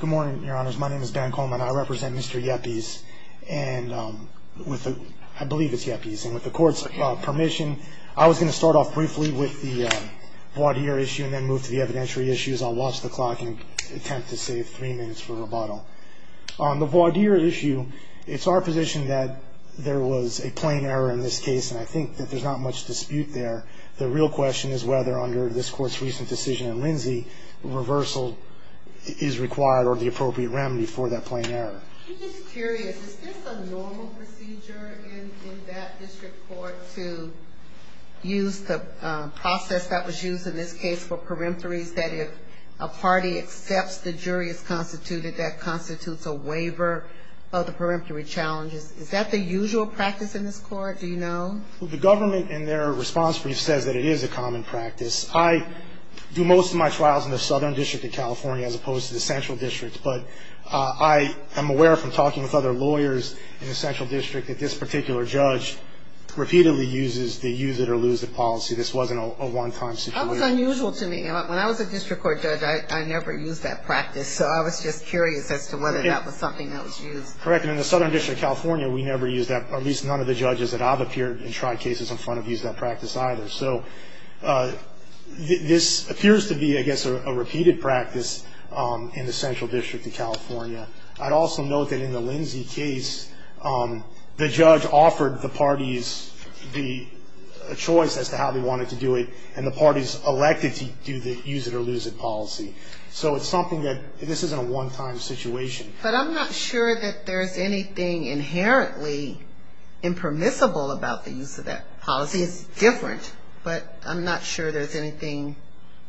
Good morning, your honors. My name is Ben Coleman. I represent Mr. Yepiz, and with the, I believe it's Yepiz, and with the court's permission, I was going to start off briefly with the voir dire issue and then move to the evidentiary issues. I'll watch the clock and attempt to save three minutes for rebuttal. On the voir dire issue, it's our position that there was a plain error in this case, and I think that there's not much dispute there. The real question is whether under this court's recent decision in Lindsay, reversal is required or the appropriate remedy for that plain error. I'm just curious, is this a normal procedure in that district court to use the process that was used in this case for peremptories, that if a party accepts, the jury is constituted, that constitutes a waiver of the peremptory challenges? Is that the usual practice in this court? Do you know? The government in their response brief says that it is a common practice. I do most of my trials in the Southern District of California as opposed to the Central District, but I am aware from talking with other lawyers in the Central District that this particular judge repeatedly uses the use it or lose it policy. This wasn't a one-time situation. That was unusual to me. When I was a district court judge, I never used that practice, so I was just curious as to whether that was something that was used. Correct. And in the Southern District of California, we never used that, or at least none of the judges that I've appeared and tried cases in front of used that practice either. So this appears to be, I guess, a repeated practice in the Central District of California. I'd also note that in the Lindsay case, the judge offered the parties the choice as to how they wanted to do it, and the parties elected to do the use it or lose it policy. So it's something that, this isn't a one-time situation. But I'm not sure that there's anything inherently impermissible about the use of that policy. It's different, but I'm not sure there's anything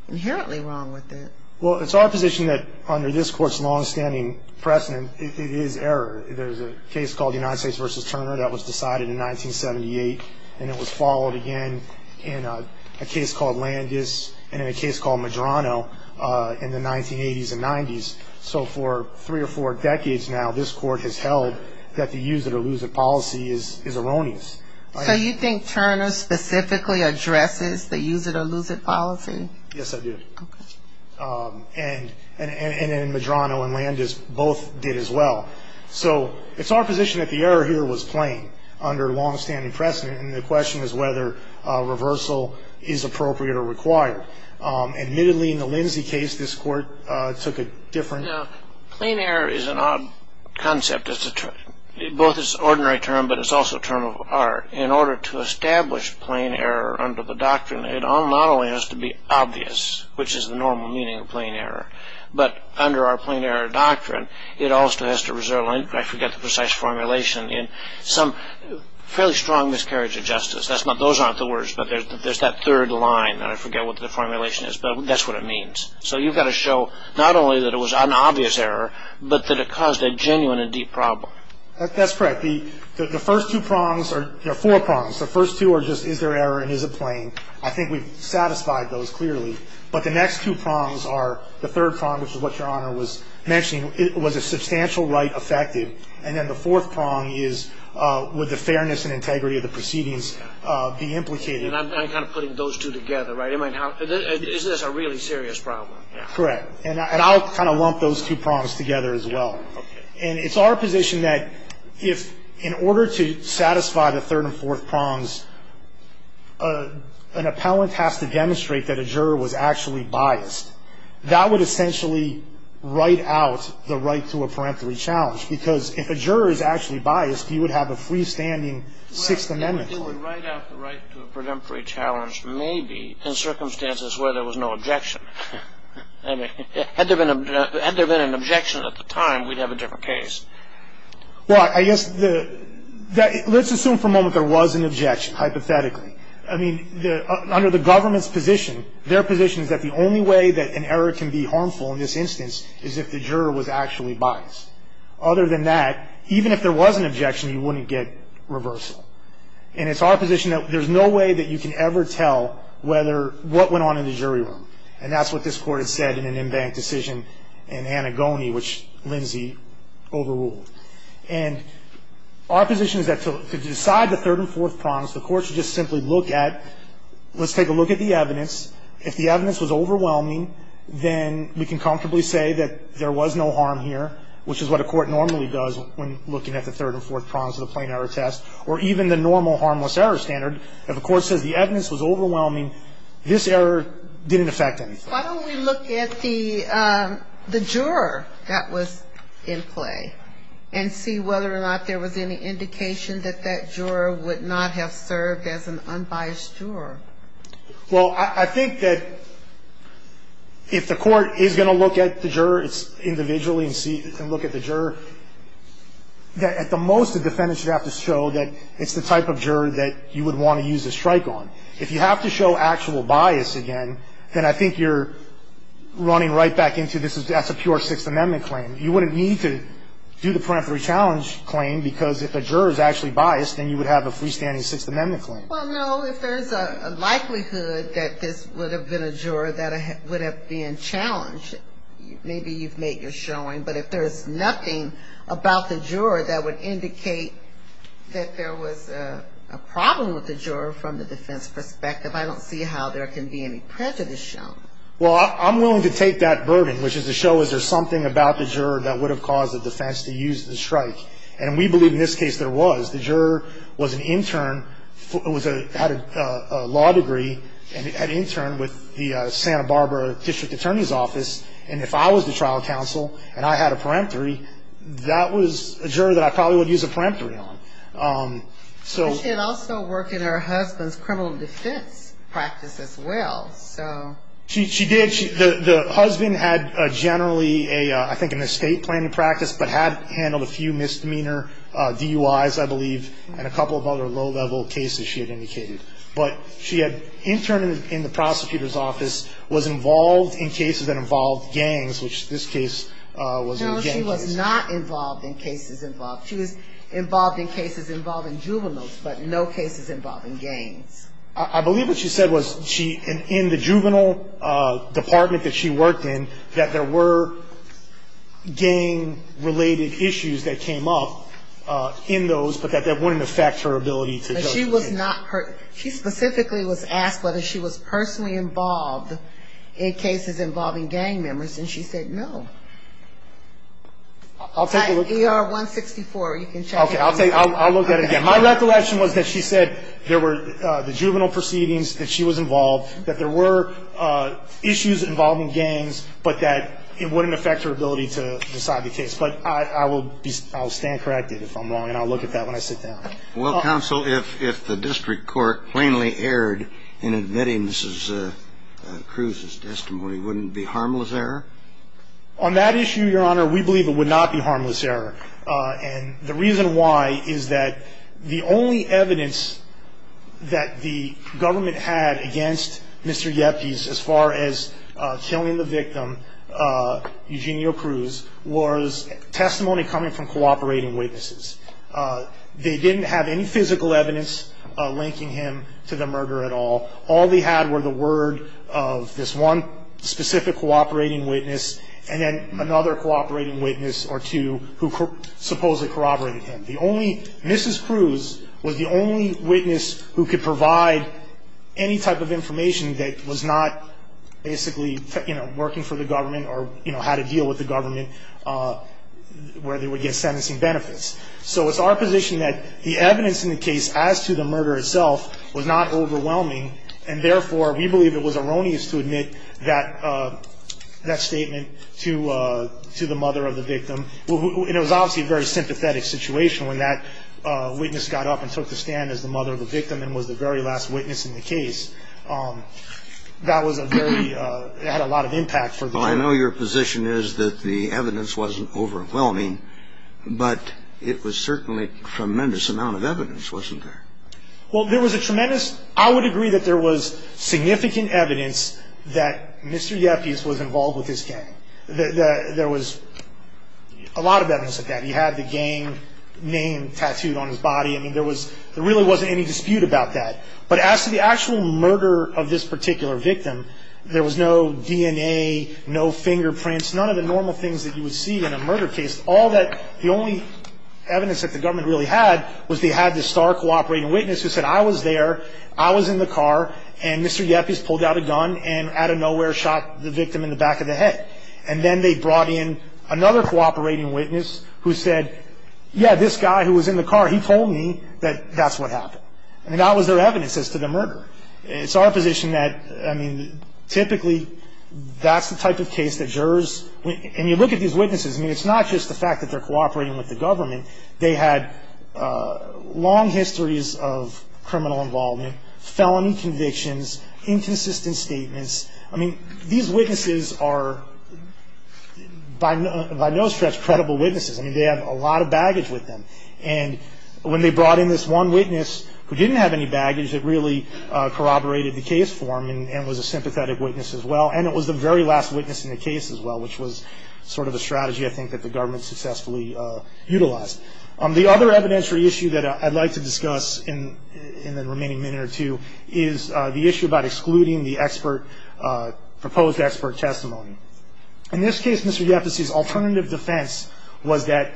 inherently wrong with it. Well, it's our position that under this Court's long-standing precedent, it is error. There's a case called United States v. Turner that was decided in 1978, and it was followed again in a case called Landis and in a case called Medrano in the 1980s and 90s. So for three or four decades now, this Court has held that the use it or lose it policy is erroneous. So you think Turner specifically addresses the use it or lose it policy? Yes, I do. Okay. And in Medrano and Landis, both did as well. So it's our position that the error here was plain under long-standing precedent, and the question is whether reversal is appropriate or required. Admittedly, in the Lindsay case, this Court took a different... You know, plain error is an odd concept. Both it's an ordinary term, but it's also a term of art. In order to establish plain error under the doctrine, it not only has to be obvious, which is the normal meaning of plain error, but under our plain error doctrine, it also has to result in, I forget the precise formulation, in some fairly strong miscarriage of justice. Those aren't the words, but there's that third line, and I forget what the formulation is, but that's what it means. So you've got to show not only that it was an obvious error, but that it caused a genuine and deep problem. That's correct. The first two prongs are four prongs. The first two are just, is there error and is it plain? I think we've satisfied those clearly. But the next two prongs are the third prong, which is what Your Honor was mentioning. Was a substantial right affected? And then the fourth prong is, would the fairness and integrity of the proceedings be implicated? And I'm kind of putting those two together, right? Is this a really serious problem? Correct. And I'll kind of lump those two prongs together as well. And it's our position that if, in order to satisfy the third and fourth prongs, an appellant has to demonstrate that a juror was actually biased. That would essentially write out the right to a parenteral challenge, because if a juror is actually biased, he would have a freestanding Sixth Amendment claim. Would write out the right to a parenteral challenge maybe in circumstances where there was no objection? I mean, had there been an objection at the time, we'd have a different case. Well, I guess the – let's assume for a moment there was an objection, hypothetically. I mean, under the government's position, their position is that the only way that an error can be harmful in this instance is if the juror was actually biased. Other than that, even if there was an objection, you wouldn't get reversal. And it's our position that there's no way that you can ever tell whether – what went on in the jury room. And that's what this Court has said in an embanked decision in Anagoni, which Lindsay overruled. And our position is that to decide the third and fourth prongs, the Court should just simply look at – let's take a look at the evidence. If the evidence was overwhelming, then we can comfortably say that there was no harm here, which is what a court normally does when looking at the third and fourth prongs of the plain error test, or even the normal harmless error standard. If a court says the evidence was overwhelming, this error didn't affect anything. Why don't we look at the juror that was in play and see whether or not there was any indication that that juror would not have served as an unbiased juror? Well, I think that if the court is going to look at the juror individually and look at the juror, at the most the defendant should have to show that it's the type of juror that you would want to use a strike on. If you have to show actual bias again, then I think you're running right back into this as a pure Sixth Amendment claim. You wouldn't need to do the parenteral challenge claim because if a juror is actually biased, then you would have a freestanding Sixth Amendment claim. Well, no, if there's a likelihood that this would have been a juror that would have been challenged, maybe you've made your showing, but if there's nothing about the juror that would indicate that there was a problem with the juror from the defense perspective, I don't see how there can be any prejudice shown. Well, I'm willing to take that burden, which is to show is there something about the juror that would have caused the defense to use the strike. And we believe in this case there was. The juror was an intern, had a law degree, and had interned with the Santa Barbara District Attorney's Office. And if I was the trial counsel and I had a peremptory, that was a juror that I probably would use a peremptory on. She had also worked in her husband's criminal defense practice as well. She did. The husband had generally, I think, an estate planning practice, but had handled a few misdemeanor DUIs, I believe, and a couple of other low-level cases she had indicated. But she had interned in the prosecutor's office, was involved in cases that involved gangs, which this case was a gang case. No, she was not involved in cases involved. She was involved in cases involving juveniles, but no cases involving gangs. I believe what she said was she, in the juvenile department that she worked in, that there were gang-related issues that came up in those, but that that wouldn't affect her ability to judge a case. But she was not her, she specifically was asked whether she was personally involved in cases involving gang members, and she said no. I'll take a look. ER-164, you can check it. Okay, I'll take, I'll look at it again. My recollection was that she said there were the juvenile proceedings, that she was involved, that there were issues involving gangs, but that it wouldn't affect her ability to decide the case. But I will stand corrected if I'm wrong, and I'll look at that when I sit down. Well, counsel, if the district court plainly erred in admitting Mrs. Cruz's testimony, wouldn't it be harmless error? On that issue, Your Honor, we believe it would not be harmless error. And the reason why is that the only evidence that the government had against Mr. Yepes, as far as killing the victim, Eugenio Cruz, was testimony coming from cooperating witnesses. They didn't have any physical evidence linking him to the murder at all. All they had were the word of this one specific cooperating witness, and then another cooperating witness or two who supposedly corroborated him. The only, Mrs. Cruz was the only witness who could provide any type of information that was not basically, you know, working for the government or, you know, how to deal with the government where they would get sentencing benefits. So it's our position that the evidence in the case as to the murder itself was not overwhelming, and therefore, we believe it was erroneous to admit that statement to the mother of the victim. And it was obviously a very sympathetic situation when that witness got up and took the stand as the mother of the victim and was the very last witness in the case. That was a very ñ it had a lot of impact for the jury. Well, I know your position is that the evidence wasn't overwhelming, but it was certainly a tremendous amount of evidence, wasn't there? Well, there was a tremendous ñ I would agree that there was significant evidence that Mr. Yepes was involved with this gang. There was a lot of evidence of that. He had the gang name tattooed on his body. I mean, there was ñ there really wasn't any dispute about that. But as to the actual murder of this particular victim, there was no DNA, no fingerprints, none of the normal things that you would see in a murder case. All that ñ the only evidence that the government really had was they had this star cooperating witness who said, I was there, I was in the car, and Mr. Yepes pulled out a gun and out of nowhere shot the victim in the back of the head. And then they brought in another cooperating witness who said, yeah, this guy who was in the car, he told me that that's what happened. I mean, that was their evidence as to the murder. It's our position that, I mean, typically, that's the type of case that jurors ñ and you look at these witnesses, I mean, it's not just the fact that they're cooperating with the government. They had long histories of criminal involvement, felony convictions, inconsistent statements. I mean, these witnesses are by no ñ by no stretch credible witnesses. I mean, they have a lot of baggage with them. And when they brought in this one witness who didn't have any baggage, it really corroborated the case for them and was a sympathetic witness as well. And it was the very last witness in the case as well, which was sort of a strategy, I think, that the government successfully utilized. The other evidentiary issue that I'd like to discuss in the remaining minute or two is the issue about excluding the expert ñ proposed expert testimony. In this case, Mr. Yepesís alternative defense was that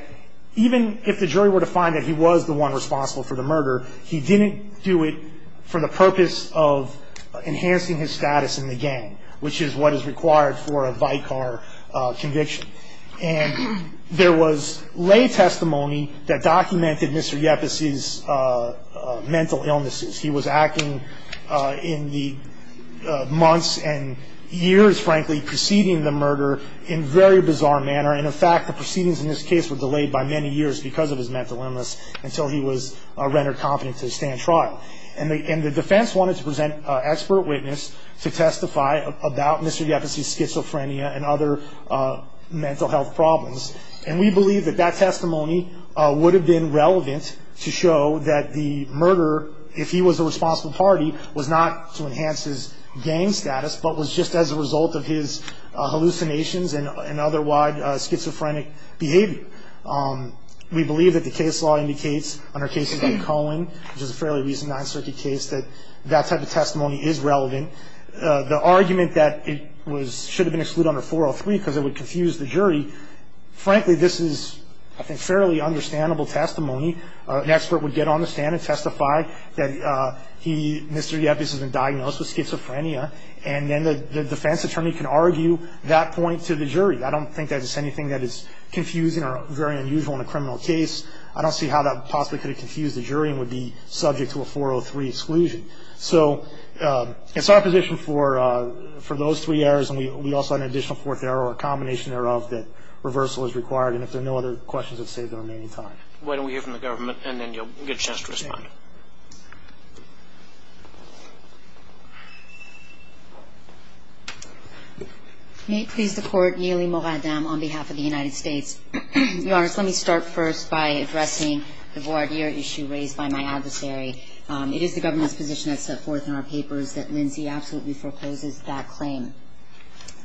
even if the jury were to find that he was the one responsible for the murder, he didn't do it for the purpose of enhancing his status in the gang, which is what is required for a Vicar conviction. And there was lay testimony that documented Mr. Yepesís mental illnesses. He was acting in the months and years, frankly, preceding the murder in a very bizarre manner. And, in fact, the proceedings in this case were delayed by many years because of his mental illness until he was rendered competent to stand trial. And the defense wanted to present an expert witness to testify about Mr. Yepesís schizophrenia and other mental health problems. And we believe that that testimony would have been relevant to show that the murderer, if he was the responsible party, was not to enhance his gang status, but was just as a result of his hallucinations and otherwise schizophrenic behavior. We believe that the case law indicates, under cases like Cohen, which is a fairly recent Ninth Circuit case, that that type of testimony is relevant. The argument that it should have been excluded under 403 because it would confuse the jury, frankly, this is, I think, fairly understandable testimony. An expert would get on the stand and testify that he, Mr. Yepes, has been diagnosed with schizophrenia, and then the defense attorney can argue that point to the jury. I donít think that is anything that is confusing or very unusual in a criminal case. I donít see how that possibly could have confused the jury and would be subject to a 403 exclusion. So itís our position for those three errors, and we also have an additional fourth error or a combination error of that reversal is required. And if there are no other questions, Iíd save the remaining time. Why donít we hear from the government, and then youíll get a chance to respond. May it please the Court, Neeli Moradam on behalf of the United States. Your Honor, let me start first by addressing the voir dire issue raised by my adversary. It is the governmentís position thatís set forth in our papers that Lindsay absolutely forecloses that claim.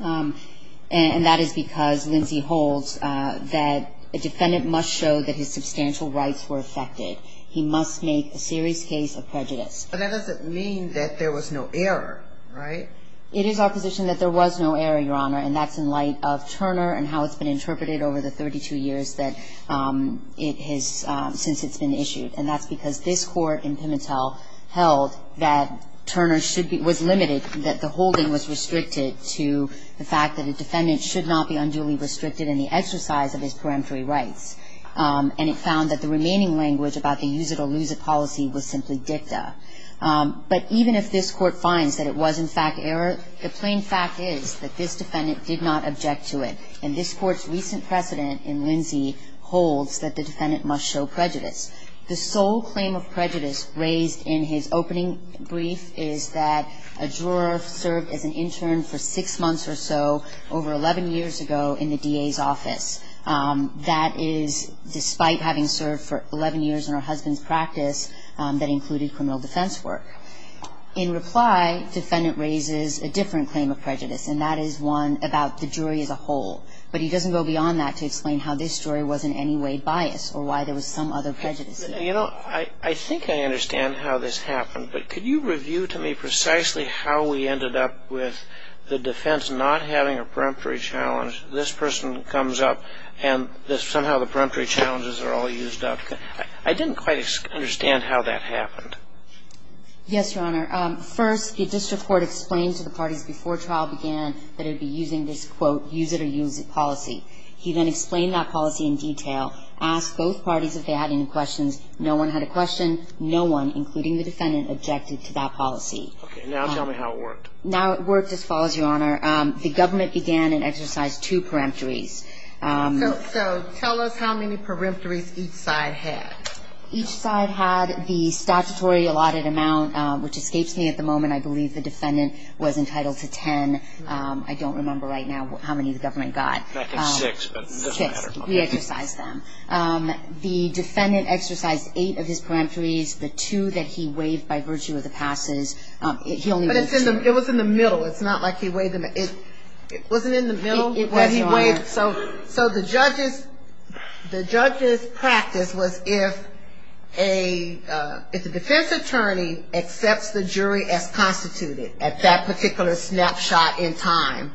And that is because, Lindsay holds, that a defendant must show that his substantial rights were affected. He must make that claim. But that doesnít mean that there was no error, right? It is our position that there was no error, Your Honor, and thatís in light of Turner and how itís been interpreted over the 32 years since itís been issued. And thatís because this Court in Pimentel held that Turner was limited, that the holding was restricted to the fact that a defendant should not be unduly restricted in the exercise of his peremptory rights. And it found that the remaining language about the use-it-or-lose-it policy was simply dicta. But even if this Court finds that it was, in fact, error, the plain fact is that this defendant did not object to it. And this Courtís recent precedent in Lindsay holds that the defendant must show prejudice. The sole claim of prejudice raised in his opening brief is that a juror served as an intern for six months or so, over 11 years ago, in the DAís office. That is, despite having served for 11 years in her husbandís practice, that included criminal defense work. In reply, defendant raises a different claim of prejudice, and that is one about the jury as a whole. But he doesnít go beyond that to explain how this jury was in any way biased or why there was some other prejudice. You know, I think I understand how this happened, but could you review to me precisely how we ended up with the defense not having a peremptory challenge, this person comes up and somehow the peremptory challenges are all used up? I didnít quite understand how that happened. Yes, Your Honor. First, the district court explained to the parties before trial began that it would be using this, quote, ìuse-it-or-lose-it policy.î He then explained that policy in detail, asked both parties if they had any questions. No one had a question. No one, including the defendant, objected to that policy. Okay. Now tell me how it worked. Now it worked as follows, Your Honor. The government began and exercised two peremptories. So tell us how many peremptories each side had. Each side had the statutory allotted amount, which escapes me at the moment. I believe the defendant was entitled to ten. I donít remember right now how many the government got. I think six, but it doesnít matter. Six. We exercised them. The defendant exercised eight of his peremptories. But it was in the middle. Itís not like he weighed them. It wasnít in the middle. It was, Your Honor. So the judgeís practice was if a defense attorney accepts the jury as constituted at that particular snapshot in time,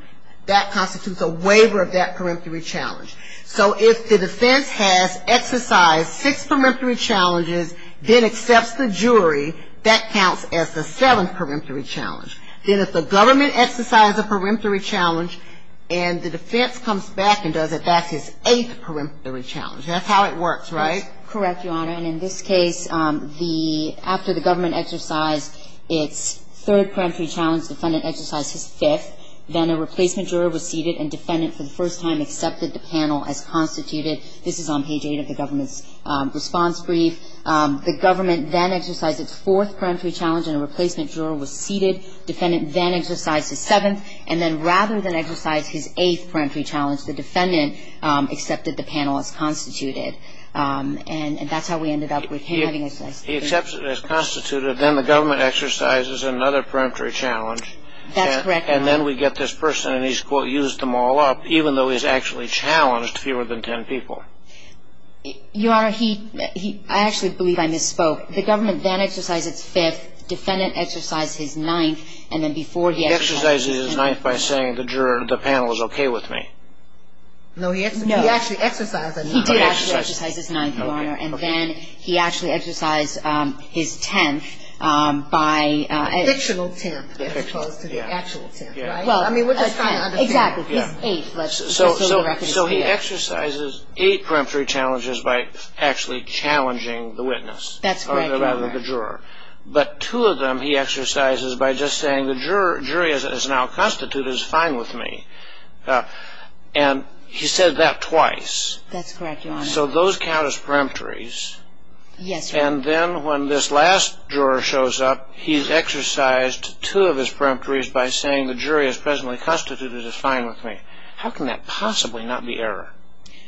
that constitutes a waiver of that peremptory challenge. So if the defense has exercised six peremptory challenges, then accepts the jury, that counts as the seventh peremptory challenge. Then if the government exercised a peremptory challenge and the defense comes back and does it, thatís his eighth peremptory challenge. Thatís how it works, right? Correct, Your Honor. And in this case, the ñ after the government exercised its third peremptory challenge, the defendant exercised his fifth. Then a replacement juror was seated and defendant for the first time accepted the panel as constituted. This is on page eight of the governmentís response brief. The government then exercised its fourth peremptory challenge and a replacement juror was seated. Defendant then exercised his seventh. And then rather than exercise his eighth peremptory challenge, the defendant accepted the panel as constituted. And thatís how we ended up with him having ñ He accepts it as constituted. Then the government exercises another peremptory challenge. Thatís correct, Your Honor. And then we get this person and heís, quote, ìused them all up even though heís actually challenged fewer than ten people.î Your Honor, he ñ I actually believe I misspoke. The government then exercised its fifth. Defendant exercised his ninth. And then before he ñ He exercised his ninth by saying, ìThe juror of the panel is okay with me.î No, he actually exercised his ninth. He did actually exercise his ninth, Your Honor. And then he actually exercised his tenth by ñ A fictional tenth as opposed to the actual tenth, right? I mean, weíre just trying to understand. Exactly. Heís eighth. So he exercises eight peremptory challenges by actually challenging the witness. Thatís correct, Your Honor. Or rather, the juror. But two of them he exercises by just saying, ìThe jury as it is now constituted is fine with me.î And he said that twice. Thatís correct, Your Honor. So those count as peremptories. Yes, Your Honor. And then when this last juror shows up, heís exercised two of his peremptories by saying, ìThe jury as presently constituted is fine with me.î How can that possibly not be error?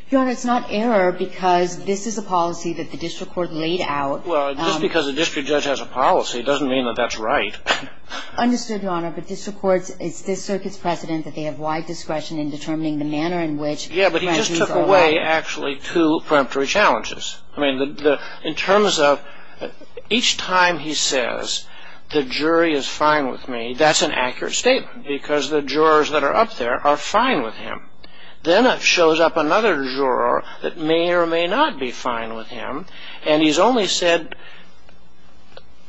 Your Honor, itís not error because this is a policy that the district court laid out. Well, just because a district judge has a policy doesnít mean that thatís right. Understood, Your Honor. But district courts, itís this circuitís precedent that they have wide discretion in determining the manner in whichÖ Yeah, but he just took away actually two peremptory challenges. I mean, in terms of each time he says, ìThe jury is fine with me.î Thatís an accurate statement because the jurors that are up there are fine with him. Then it shows up another juror that may or may not be fine with him, and heís only said,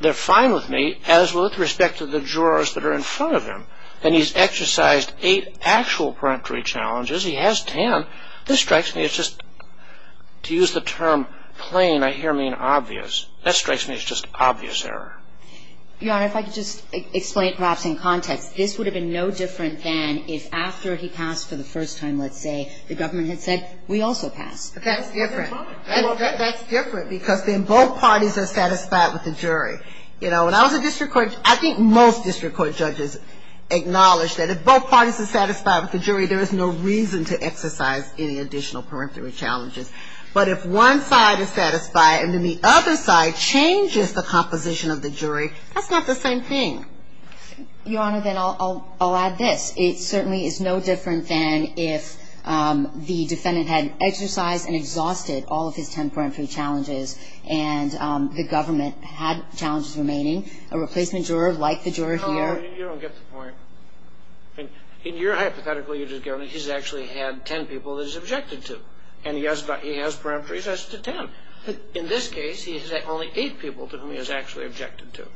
ìTheyíre fine with me.î as with respect to the jurors that are in front of him. And heís exercised eight actual peremptory challenges. He has ten. This strikes me as just, to use the term plain, I hear mean obvious. That strikes me as just obvious error. Your Honor, if I could just explain perhaps in context, this would have been no different than if after he passed for the first time, letís say, the government had said, ìWe also pass.î Thatís different. Thatís different because then both parties are satisfied with the jury. You know, when I was a district court, I think most district court judges acknowledge that if both parties are satisfied with the jury, there is no reason to exercise any additional peremptory challenges. But if one side is satisfied and then the other side changes the composition of the jury, thatís not the same thing. Your Honor, then Iíll add this. It certainly is no different than if the defendant had exercised and exhausted all of his ten peremptory challenges and the government had challenges remaining. A replacement juror like the juror hereó No, you donít get the point. In your hypothetical, youíre just going, ìHeís actually had ten people that heís objected to, and he has peremptories as to ten.î But in this case, he has had only eight people to whom he has actually objected to.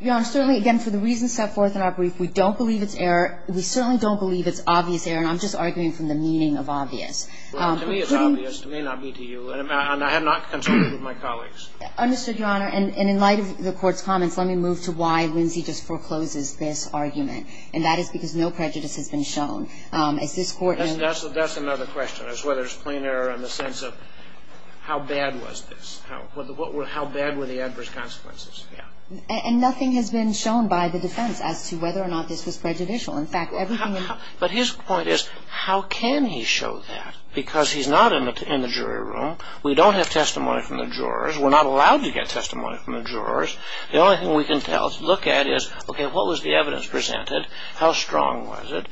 Your Honor, certainly, again, for the reasons set forth in our brief, we donít believe itís error. We certainly donít believe itís obvious error, and Iím just arguing from the meaning of ìobvious.î Well, to me itís obvious. It may not be to you. And I have not consulted with my colleagues. Understood, Your Honor. And in light of the Courtís comments, let me move to why Lindsay just forecloses this argument, and that is because no prejudice has been shown. As this Courtó Thatís another question, is whether itís plain error in the sense of how bad was this? How bad were the adverse consequences? And nothing has been shown by the defense as to whether or not this was prejudicial. In fact, everythingó But his point is, how can he show that? Because heís not in the jury room. We donít have testimony from the jurors. Weíre not allowed to get testimony from the jurors. The only thing we can look at is, okay, what was the evidence presented? How strong was it?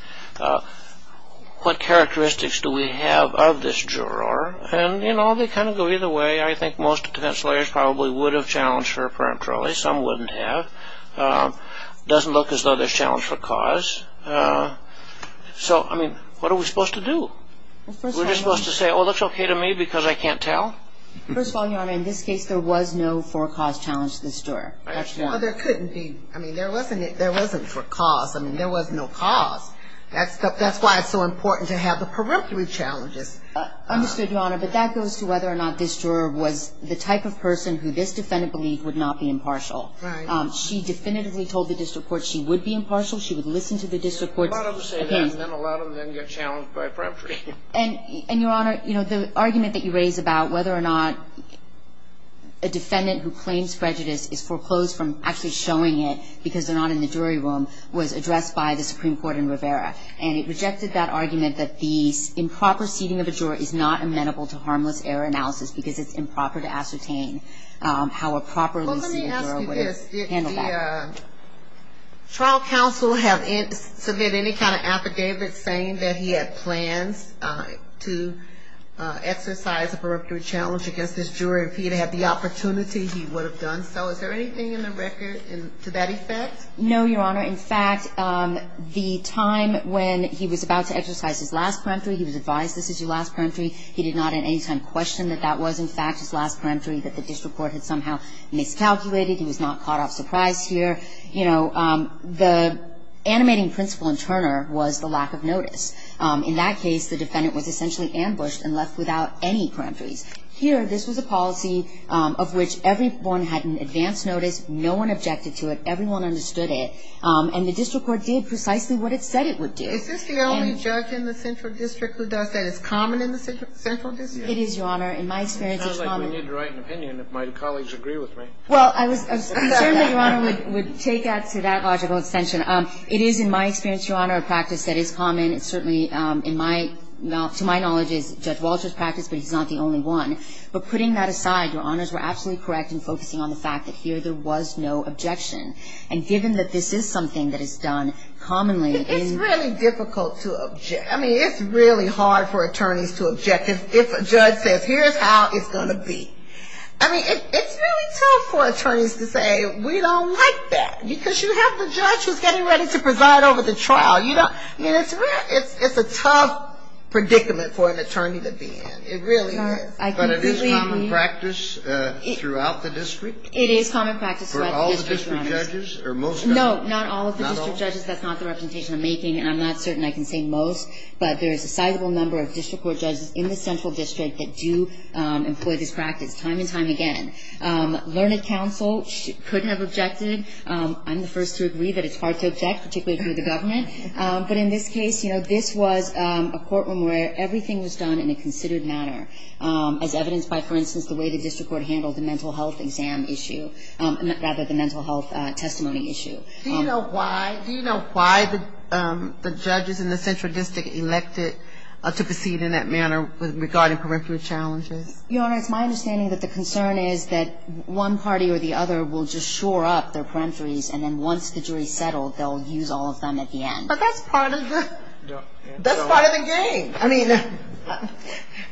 What characteristics do we have of this juror? And, you know, they kind of go either way. I think most defense lawyers probably would have challenged her peremptorily. Some wouldnít have. It doesnít look as though thereís challenge for cause. So, I mean, what are we supposed to do? Weíre just supposed to say, ìOh, thatís okay to me because I canít tell.î First of all, Your Honor, in this case, there was no for-cause challenge to this juror. Thatís why. Well, there couldnít be. I mean, there wasnít for cause. I mean, there was no cause. Thatís why itís so important to have the peremptory challenges. Understood, Your Honor. But that goes to whether or not this juror was the type of person who this defendant believed would not be impartial. Right. She definitively told the district court she would be impartial. She would listen to the district court. A lot of them say that, and then a lot of them get challenged by peremptory. And, Your Honor, you know, the argument that you raise about whether or not a defendant who claims prejudice is foreclosed from actually showing it because theyíre not in the jury room was addressed by the Supreme Court in Rivera. And it rejected that argument that the improper seating of a juror is not amenable to harmless error analysis because itís improper to ascertain how a properly seated juror would handle that. Well, let me ask you this. Did the trial counsel submit any kind of affidavit saying that he had plans to exercise a peremptory challenge against this juror? If he had had the opportunity, he would have done so. Is there anything in the record to that effect? No, Your Honor. In fact, the time when he was about to exercise his last peremptory, he was advised, ìThis is your last peremptory.î He did not at any time question that that was, in fact, his last peremptory, that the district court had somehow miscalculated. He was not caught off surprise here. You know, the animating principle in Turner was the lack of notice. In that case, the defendant was essentially ambushed and left without any peremptories. Here, this was a policy of which everyone had an advance notice. No one objected to it. Everyone understood it. And the district court did precisely what it said it would do. Is this the only judge in the central district who does that? Itís common in the central district? It is, Your Honor. In my experience, itís common. It sounds like we need to write an opinion if my colleagues agree with me. Well, I was concerned that Your Honor would take that to that logical extension. It is, in my experience, Your Honor, a practice that is common. To my knowledge, itís Judge Walterís practice, but heís not the only one. But putting that aside, Your Honors were absolutely correct in focusing on the fact that here there was no objection. And given that this is something that is done commonlyó Itís really difficult to object. I mean, itís really hard for attorneys to object if a judge says, ìHereís how itís going to be.î I mean, itís really tough for attorneys to say, ìWe donít like that.î Because you have the judge whoís getting ready to preside over the trial. I mean, itís a tough predicament for an attorney to be in. It really is. But it is common practice throughout the district? It is common practice throughout the district, Your Honor. For all the district judges or most of them? No, not all of the district judges. Thatís not the representation Iím making, and Iím not certain I can say most. But there is a sizable number of district court judges in the central district that do employ this practice time and time again. Learned Counsel couldnít have objected. Iím the first to agree that itís hard to object, particularly through the government. But in this case, you know, this was a courtroom where everything was done in a considered manner, as evidenced by, for instance, the way the district court handled the mental health exam issue. Rather, the mental health testimony issue. Do you know why the judges in the central district elected to proceed in that manner regarding parenteral challenges? Your Honor, itís my understanding that the concern is that one party or the other will just shore up their parenteries, and then once the juryís settled, theyíll use all of them at the end. But thatís part of the game.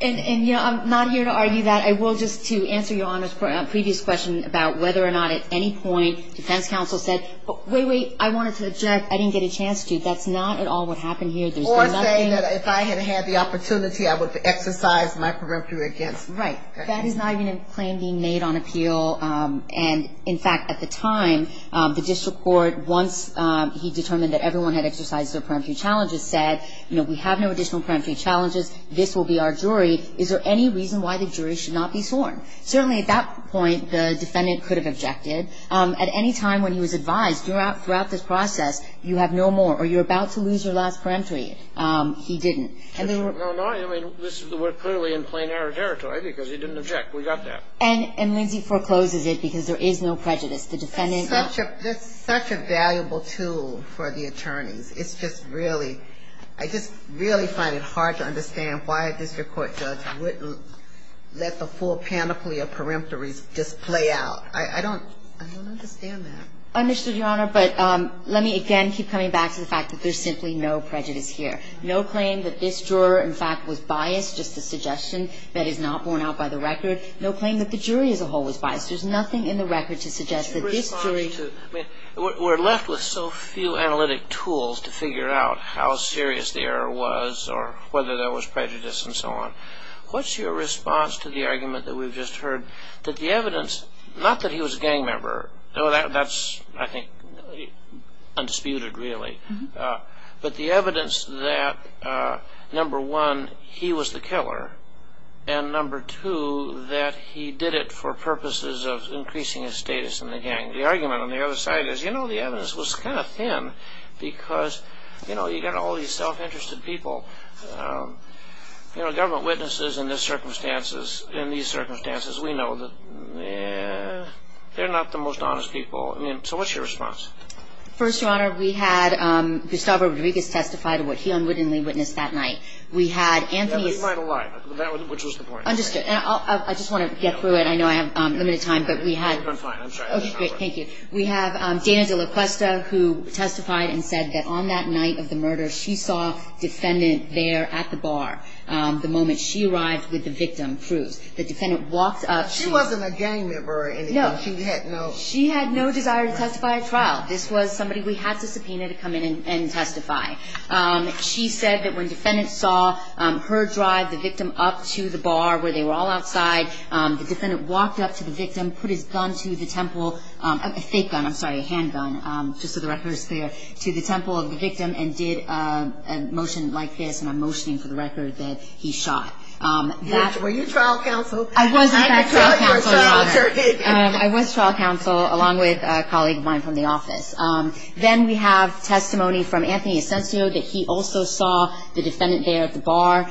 And, you know, Iím not here to argue that. I will just, to answer Your Honorís previous question about whether or not at any point defense counsel said, wait, wait, I wanted to object, I didnít get a chance to. Thatís not at all what happened here. Or say that if I had had the opportunity, I would have exercised my peremptory against. Right. That is not even a claim being made on appeal. And, in fact, at the time, the district court, once he determined that everyone had exercised their peremptory challenges, said, you know, we have no additional peremptory challenges. This will be our jury. Is there any reason why the jury should not be sworn? Certainly at that point, the defendant could have objected. At any time when he was advised throughout this process, you have no more, or youíre about to lose your last peremptory, he didnít. No, no, I mean, weíre clearly in plain error territory because he didnít object. We got that. And Lindsey forecloses it because there is no prejudice. The defendantó Thatís such a valuable tool for the attorneys. Itís just really ñ I just really find it hard to understand why a district court judge wouldnít let the full panoply of peremptories just play out. I donít understand that. I understood, Your Honor, but let me again keep coming back to the fact that thereís simply no prejudice here. No claim that this juror, in fact, was biased, just a suggestion that is not borne out by the record. No claim that the jury as a whole was biased. Thereís nothing in the record to suggest that this juryó Weíre left with so few analytic tools to figure out how serious the error was or whether there was prejudice and so on. Whatís your response to the argument that weíve just heard that the evidence ñ not that he was a gang member. Thatís, I think, undisputed, really. But the evidence that, number one, he was the killer and, number two, that he did it for purposes of increasing his status in the gang. The argument on the other side is, you know, the evidence was kind of thin because, you know, youíve got all these self-interested people. You know, government witnesses in these circumstances, we know that theyíre not the most honest people. So whatís your response? First, Your Honor, we had Gustavo Rodriguez testify to what he unwittingly witnessed that night. We had Anthonyísó Yeah, but he might have lied, which was the point. Understood. And I just want to get through it. I know I have limited time, but we hadó Iím fine. Iím sorry. Okay, great. Thank you. We have Dana DeLaCuesta who testified and said that on that night of the murder, she saw a defendant there at the bar the moment she arrived with the victim, Cruz. The defendant walked up toó She wasnít a gang member or anything. No. She had noó No. This was somebody we had to subpoena to come in and testify. She said that when defendants saw her drive the victim up to the bar where they were all outside, the defendant walked up to the victim, put his gun to the templeóa fake gun, Iím sorry, a handgun, just so the record is clearóto the temple of the victim and did a motion like this, and Iím motioning for the record that he shot. Were you trial counsel? I was in fact trial counsel, Your Honor. I didnít know you were trial attorney. I was trial counsel along with a colleague of mine from the office. Then we have testimony from Anthony Asensio that he also saw the defendant there at the bar.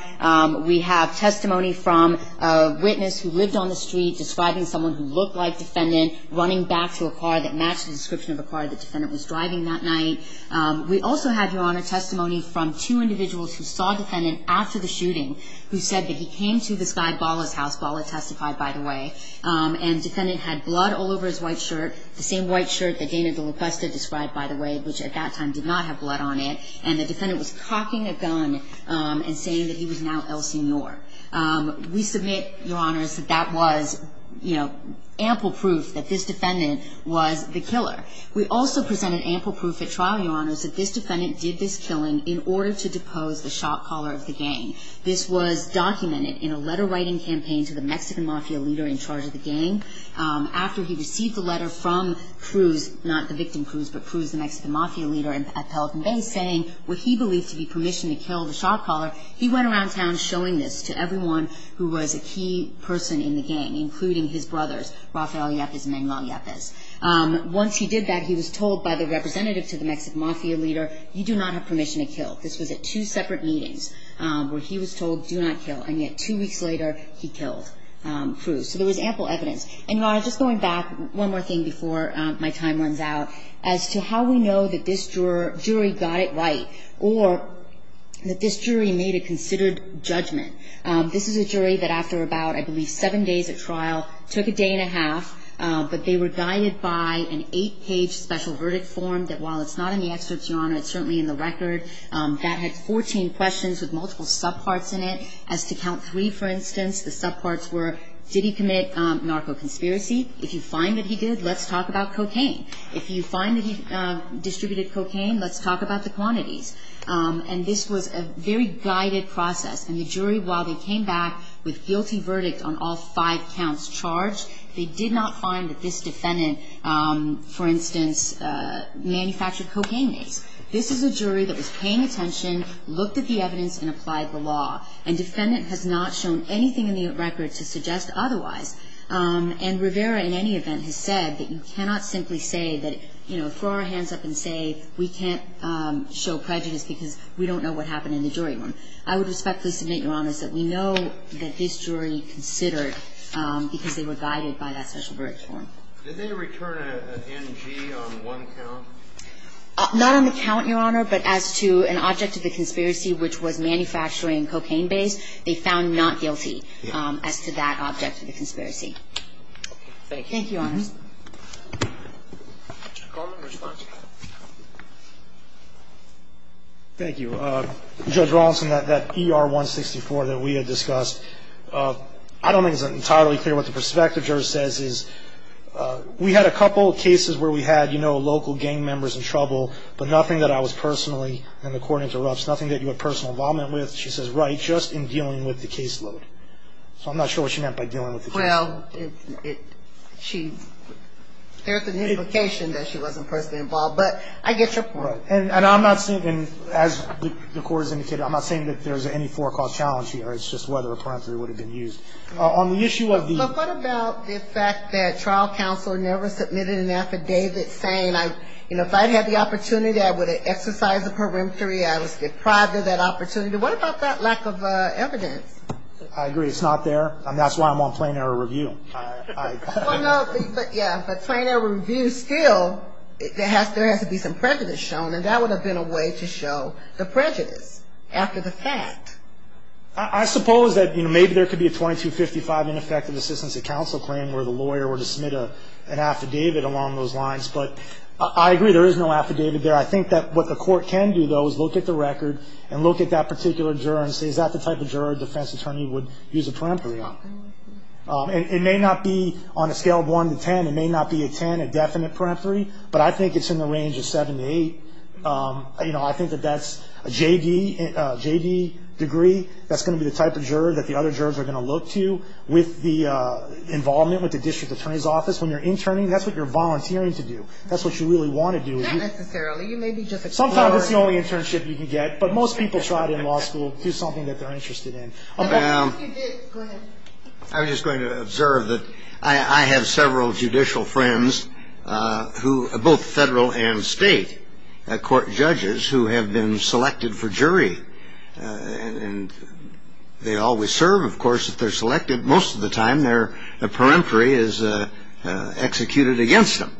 We have testimony from a witness who lived on the street describing someone who looked like defendant running back to a car that matched the description of a car the defendant was driving that night. We also have, Your Honor, testimony from two individuals who saw defendant after the shooting who said that he came to this guy Balaís house. Bala testified, by the way. And the defendant had blood all over his white shirt, the same white shirt that Dana DeLaCosta described, by the way, which at that time did not have blood on it. And the defendant was cocking a gun and saying that he was now El Senor. We submit, Your Honors, that that was, you know, ample proof that this defendant was the killer. We also present an ample proof at trial, Your Honors, that this defendant did this killing in order to depose the shop caller of the gang. This was documented in a letter writing campaign to the Mexican mafia leader in charge of the gang. After he received the letter from Cruz, not the victim Cruz, but Cruz, the Mexican mafia leader at Pelican Bay, saying what he believed to be permission to kill the shop caller, he went around town showing this to everyone who was a key person in the gang, including his brothers, Rafael Yepes and Manuel Yepes. Once he did that, he was told by the representative to the Mexican mafia leader, ìYou do not have permission to kill.î This was at two separate meetings where he was told, ìDo not kill.î And yet two weeks later he killed Cruz. So there was ample evidence. And, Your Honor, just going back one more thing before my time runs out, as to how we know that this jury got it right or that this jury made a considered judgment. This is a jury that after about, I believe, seven days at trial, took a day and a half. But they were guided by an eight-page special verdict form that, while it's not in the excerpts, Your Honor, it's certainly in the record, that had 14 questions with multiple subparts in it. As to count three, for instance, the subparts were, did he commit narco-conspiracy? If you find that he did, let's talk about cocaine. If you find that he distributed cocaine, let's talk about the quantities. And this was a very guided process. And the jury, while they came back with guilty verdict on all five counts charged, they did not find that this defendant, for instance, manufactured cocaine use. This is a jury that was paying attention, looked at the evidence, and applied the law. And defendant has not shown anything in the record to suggest otherwise. And Rivera, in any event, has said that you cannot simply say that, you know, throw our hands up and say we can't show prejudice because we don't know what happened in the jury room. I would respectfully submit, Your Honor, that we know that this jury considered because they were guided by that special verdict form. Did they return an NG on one count? Not on the count, Your Honor, but as to an object of the conspiracy, which was manufacturing cocaine base, they found not guilty as to that object of the conspiracy. Thank you. Thank you, Your Honor. Mr. Coleman, response. Thank you. Judge Rawlinson, that ER-164 that we had discussed, I don't think it's entirely clear what the perspective juror says is we had a couple of cases where we had, you know, local gang members in trouble, but nothing that I was personally, and the Court interrupts, nothing that you had personal involvement with. She says, right, just in dealing with the caseload. So I'm not sure what she meant by dealing with the caseload. Well, she, there's a notification that she wasn't personally involved, but I get your point. And I'm not saying, as the Court has indicated, I'm not saying that there's any forecall challenge here. It's just whether a parenthesis would have been used. On the issue of the- But what about the fact that trial counsel never submitted an affidavit saying, you know, if I'd had the opportunity, I would have exercised the peremptory, I was deprived of that opportunity. What about that lack of evidence? I agree. It's not there, and that's why I'm on plain error review. Well, no, but, yeah, plain error review still, there has to be some prejudice shown, and that would have been a way to show the prejudice after the fact. I suppose that, you know, maybe there could be a 2255 ineffective assistance of counsel claim where the lawyer were to submit an affidavit along those lines, but I agree. There is no affidavit there. I think that what the court can do, though, is look at the record and look at that particular juror and say, is that the type of juror a defense attorney would use a peremptory on? It may not be on a scale of 1 to 10. It may not be a 10, a definite peremptory, but I think it's in the range of 7 to 8. You know, I think that that's a JD degree. That's going to be the type of juror that the other jurors are going to look to. With the involvement with the district attorney's office, when you're interning, that's what you're volunteering to do. That's what you really want to do. Not necessarily. You may be just exploring. Sometimes that's the only internship you can get, but most people try it in law school to do something that they're interested in. Go ahead. I was just going to observe that I have several judicial friends who are both federal and state court judges who have been selected for jury, and they always serve, of course, if they're selected. Most of the time their peremptory is executed against them,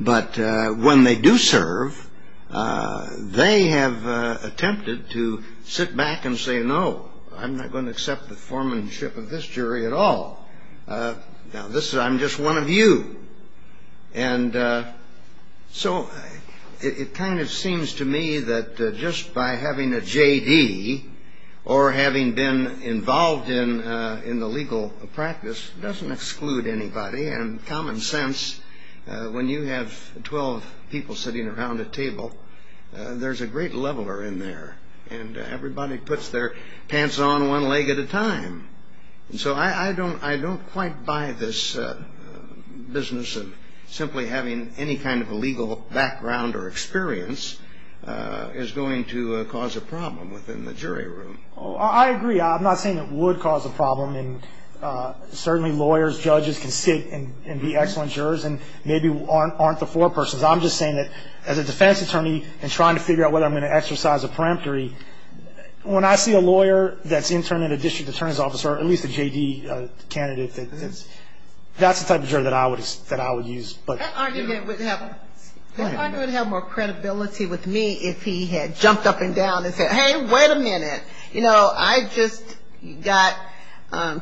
but when they do serve, they have attempted to sit back and say, no, I'm not going to accept the formanship of this jury at all. I'm just one of you. So it kind of seems to me that just by having a JD or having been involved in the legal practice doesn't exclude anybody. Common sense, when you have 12 people sitting around a table, there's a great leveler in there, and everybody puts their pants on one leg at a time. So I don't quite buy this business of simply having any kind of legal background or experience is going to cause a problem within the jury room. I agree. I'm not saying it would cause a problem. Certainly lawyers, judges can sit and be excellent jurors and maybe aren't the four persons. I'm just saying that as a defense attorney and trying to figure out whether I'm going to exercise a peremptory, when I see a lawyer that's interned in a district attorney's office, or at least a JD candidate, that's the type of jury that I would use. That argument would have more credibility with me if he had jumped up and down and said, hey, wait a minute. You know, I just got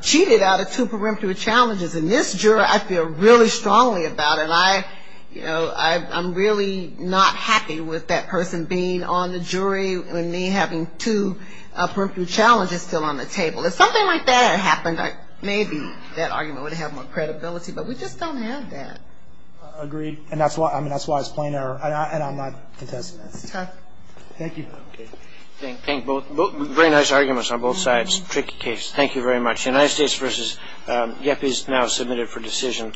cheated out of two peremptory challenges, and this juror I feel really strongly about, and I'm really not happy with that person being on the jury and me having two peremptory challenges still on the table. If something like that happened, maybe that argument would have more credibility, but we just don't have that. Agreed. And that's why it's plain error, and I'm not contesting it. Okay. Thank you. Okay. Thank you. Very nice arguments on both sides. Tricky case. Thank you very much. United States v. GEPI is now submitted for decision.